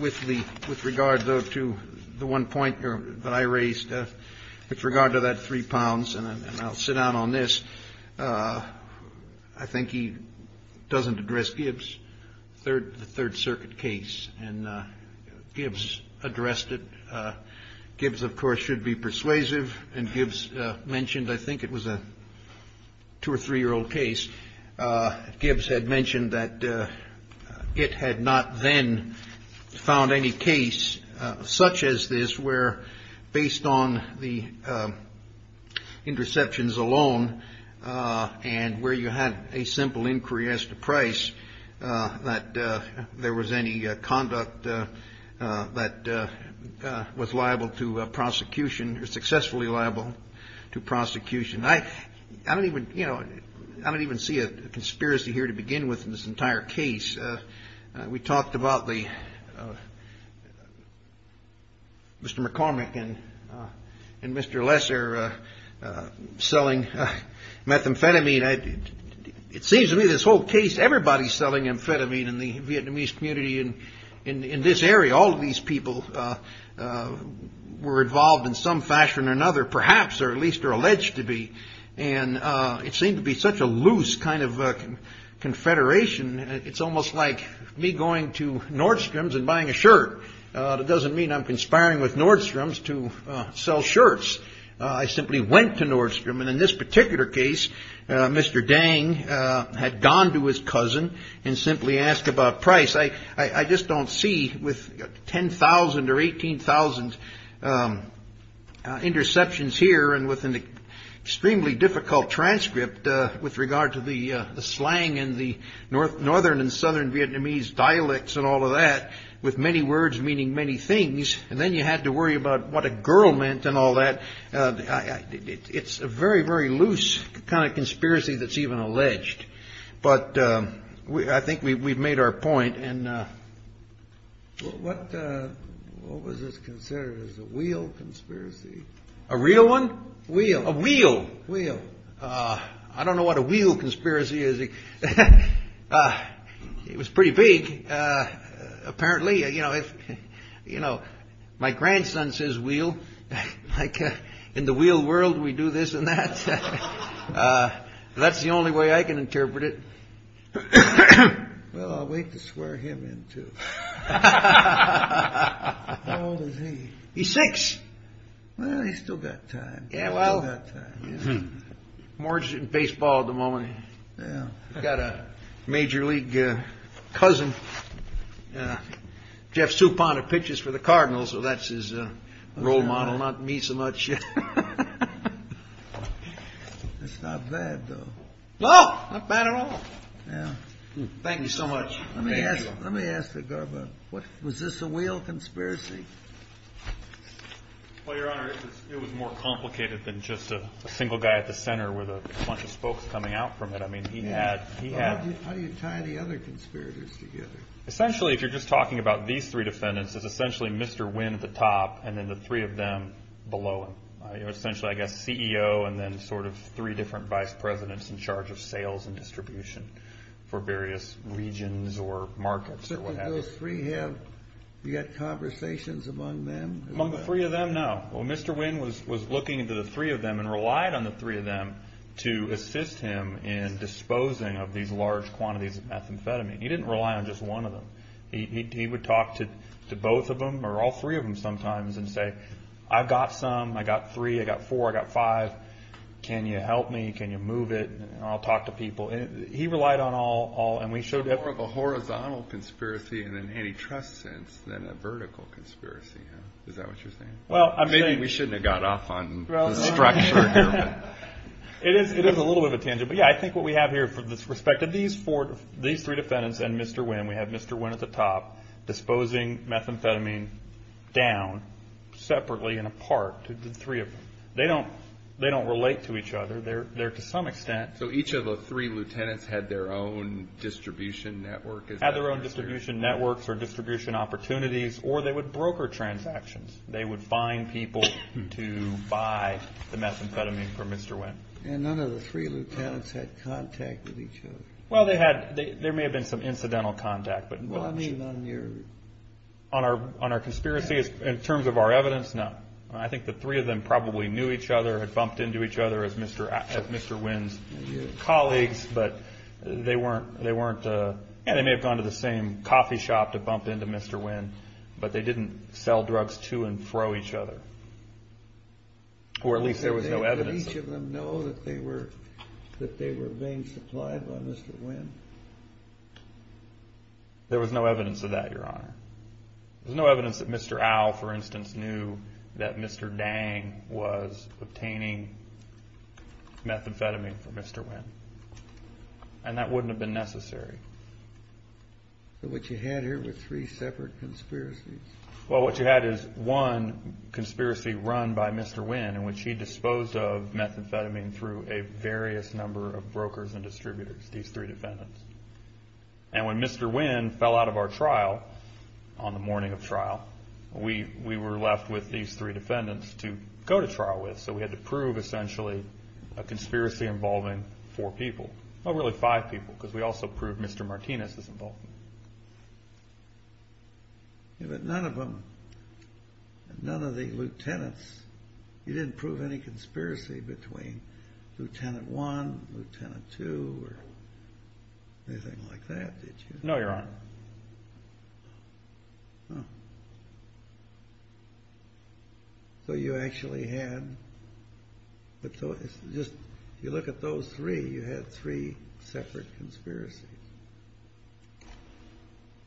with regard, though, to the one point that I raised. With regard to that three pounds, and I'll sit down on this. I think he doesn't address Gibbs, the Third Circuit case. And Gibbs addressed it. Gibbs, of course, should be persuasive. And Gibbs mentioned, I think it was a two- or three-year-old case. Gibbs had mentioned that it had not then found any case such as this where, based on the interceptions alone and where you had a simple inquiry as to price, that there was any conduct that was liable to prosecution or successfully liable to prosecution. I don't even see a conspiracy here to begin with in this entire case. We talked about Mr. McCormick and Mr. Lesser selling methamphetamine. It seems to me this whole case, everybody's selling amphetamine in the Vietnamese community in this area. All of these people were involved in some fashion or another, perhaps, or at least are alleged to be. And it seemed to be such a loose kind of confederation. It's almost like me going to Nordstrom's and buying a shirt. It doesn't mean I'm conspiring with Nordstrom's to sell shirts. I simply went to Nordstrom. And in this particular case, Mr. Dang had gone to his cousin and simply asked about price. I just don't see with 10,000 or 18,000 interceptions here and with an extremely difficult transcript with regard to the slang and the northern and southern Vietnamese dialects and all of that, with many words meaning many things, and then you had to worry about what a girl meant and all that. It's a very, very loose kind of conspiracy that's even alleged. But I think we've made our point. And what was this considered? It was a wheel conspiracy. A real one? Wheel. A wheel. Wheel. I don't know what a wheel conspiracy is. It was pretty big, apparently. You know, my grandson says wheel. Like, in the wheel world, we do this and that. That's the only way I can interpret it. Well, I'll wait to swear him in, too. How old is he? He's six. Well, he's still got time. Yeah, well, I'm more interested in baseball at the moment. I've got a major league cousin, Jeff Soupon, who pitches for the Cardinals, so that's his role model, not me so much. It's not bad, though. No, not bad at all. Thank you so much. Let me ask the guard about it. Was this a wheel conspiracy? Well, Your Honor, it was more complicated than just a single guy at the center with a bunch of spokes coming out from it. I mean, he had. How do you tie the other conspirators together? Essentially, if you're just talking about these three defendants, it's essentially Mr. Wynn at the top and then the three of them below him. Essentially, I guess, CEO and then sort of three different vice presidents in charge of sales and distribution for various regions or markets or what have you. So did those three have conversations among them? Among the three of them, no. Well, Mr. Wynn was looking into the three of them and relied on the three of them to assist him in disposing of these large quantities of methamphetamine. He didn't rely on just one of them. He would talk to both of them or all three of them sometimes and say, I've got some, I've got three, I've got four, I've got five. Can you help me? Can you move it? I'll talk to people. He relied on all. More of a horizontal conspiracy in an antitrust sense than a vertical conspiracy. Is that what you're saying? Maybe we shouldn't have got off on the structure here. It is a little bit of a tangent, but, yeah, I think what we have here with respect to these three defendants and Mr. Wynn, we have Mr. Wynn at the top disposing methamphetamine down separately and apart. They don't relate to each other. They're to some extent. So each of the three lieutenants had their own distribution network? Had their own distribution networks or distribution opportunities or they would broker transactions. They would find people to buy the methamphetamine from Mr. Wynn. And none of the three lieutenants had contact with each other? Well, they had. There may have been some incidental contact. Well, I mean on your. On our conspiracy in terms of our evidence, no. I think the three of them probably knew each other, had bumped into each other as Mr. Wynn's colleagues, but they weren't. They may have gone to the same coffee shop to bump into Mr. Wynn, but they didn't sell drugs to and fro each other. Or at least there was no evidence. Did each of them know that they were being supplied by Mr. Wynn? There was no evidence of that, Your Honor. There was no evidence that Mr. Al, for instance, knew that Mr. Dang was obtaining methamphetamine from Mr. Wynn. And that wouldn't have been necessary. But what you had here were three separate conspiracies. Well, what you had is one conspiracy run by Mr. Wynn in which he disposed of methamphetamine through a various number of brokers and distributors, these three defendants. And when Mr. Wynn fell out of our trial on the morning of trial, we were left with these three defendants to go to trial with. So we had to prove essentially a conspiracy involving four people. Well, really five people because we also proved Mr. Martinez was involved. But none of them, none of the lieutenants, you didn't prove any conspiracy between Lieutenant One, Lieutenant Two, or anything like that, did you? No, Your Honor. So you actually had, if you look at those three, you had three separate conspiracies.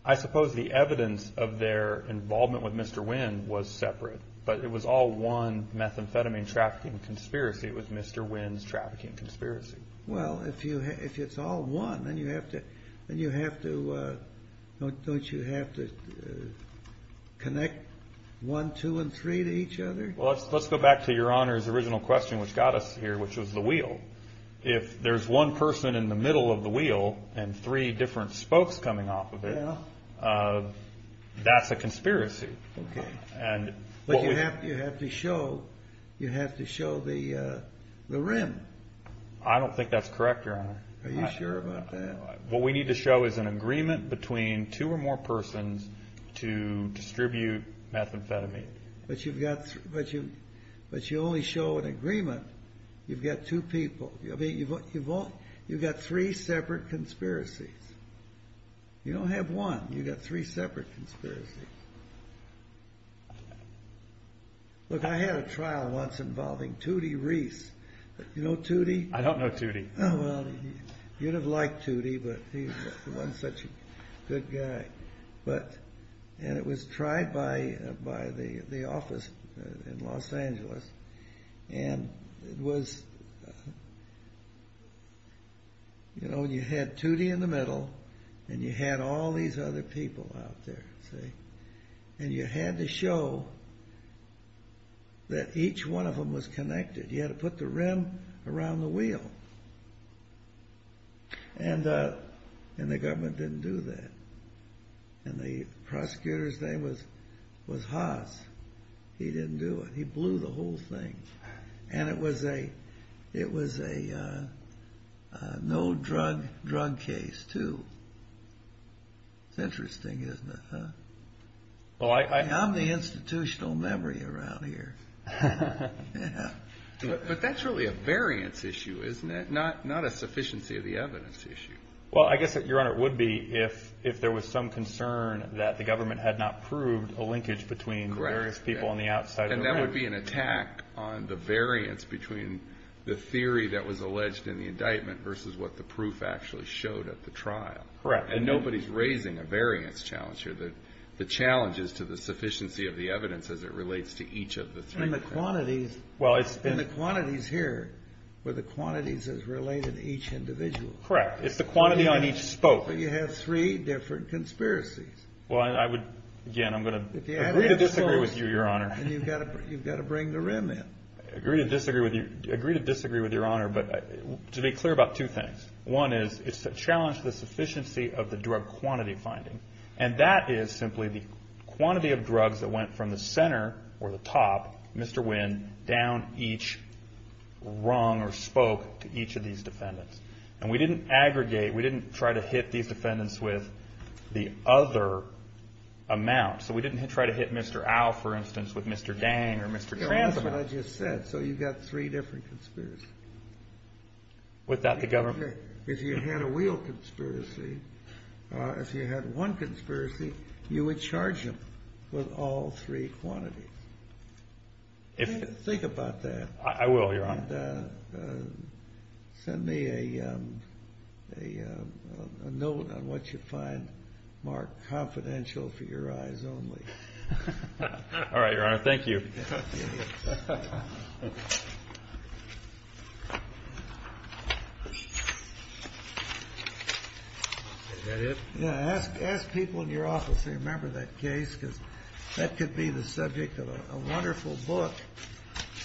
I suppose the evidence of their involvement with Mr. Wynn was separate, but it was all one methamphetamine trafficking conspiracy. It was Mr. Wynn's trafficking conspiracy. Well, if it's all one, then you have to, don't you have to connect one, two, and three to each other? Well, let's go back to Your Honor's original question which got us here, which was the wheel. If there's one person in the middle of the wheel and three different spokes coming off of it, that's a conspiracy. But you have to show, you have to show the rim. I don't think that's correct, Your Honor. Are you sure about that? What we need to show is an agreement between two or more persons to distribute methamphetamine. But you only show an agreement. You've got two people. You've got three separate conspiracies. You don't have one. You've got three separate conspiracies. Look, I had a trial once involving Tootie Reese. You know Tootie? I don't know Tootie. Well, you'd have liked Tootie, but he wasn't such a good guy. And it was tried by the office in Los Angeles. And it was, you know, you had Tootie in the middle and you had all these other people out there, see? And you had to show that each one of them was connected. And the government didn't do that. And the prosecutor's name was Haas. He didn't do it. He blew the whole thing. And it was a no-drug drug case, too. It's interesting, isn't it? I'm the institutional memory around here. But that's really a variance issue, isn't it? Not a sufficiency of the evidence issue. Well, I guess, Your Honor, it would be if there was some concern that the government had not proved a linkage between the various people on the outside. And that would be an attack on the variance between the theory that was alleged in the indictment versus what the proof actually showed at the trial. Correct. And nobody's raising a variance challenge here. The challenge is to the sufficiency of the evidence as it relates to each of the three. And the quantities here, where the quantities is related to each individual. Correct. It's the quantity on each spoke. But you have three different conspiracies. Again, I'm going to agree to disagree with you, Your Honor. And you've got to bring the rim in. I agree to disagree with Your Honor, but to be clear about two things. One is it's a challenge to the sufficiency of the drug quantity finding. And that is simply the quantity of drugs that went from the center or the top, Mr. Winn, down each rung or spoke to each of these defendants. And we didn't aggregate. We didn't try to hit these defendants with the other amount. So we didn't try to hit Mr. Al, for instance, with Mr. Dang or Mr. Transel. That's what I just said. So you've got three different conspiracies. Without the government. If you had a wheel conspiracy, if you had one conspiracy, you would charge them with all three quantities. Think about that. I will, Your Honor. And send me a note on what you find more confidential for your eyes only. All right, Your Honor. Thank you. Is that it? Yeah. Ask people in your office to remember that case because that could be the subject of a wonderful book.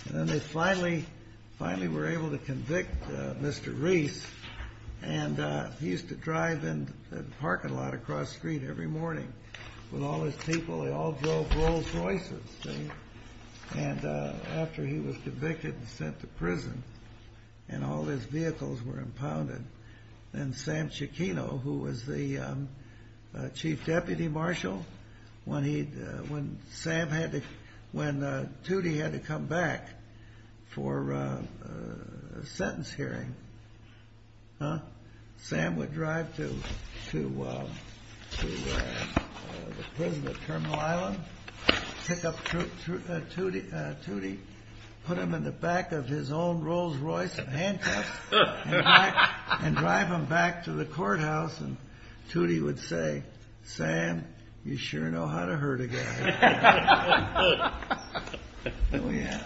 And then they finally were able to convict Mr. Reese. And he used to drive in the parking lot across the street every morning with all his people. They all drove Rolls Royces. And after he was convicted and sent to prison and all his vehicles were impounded, then Sam Cicchino, who was the chief deputy marshal, when Tudy had to come back for a sentence hearing, Sam would drive to the prison at Terminal Island, pick up Tudy, put him in the back of his own Rolls Royce and drive him back to the courthouse. And Tudy would say, Sam, you sure know how to hurt a guy. Oh, yeah.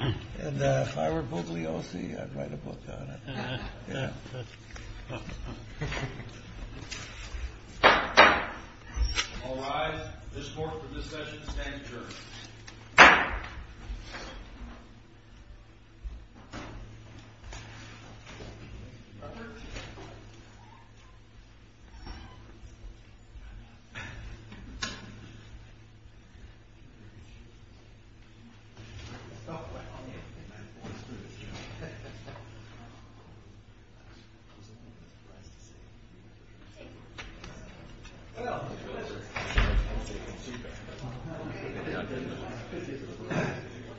And if I were Bookley O.C., I'd write a book on it. Yeah. All rise. This court for discussion stands adjourned. Thank you. Thank you.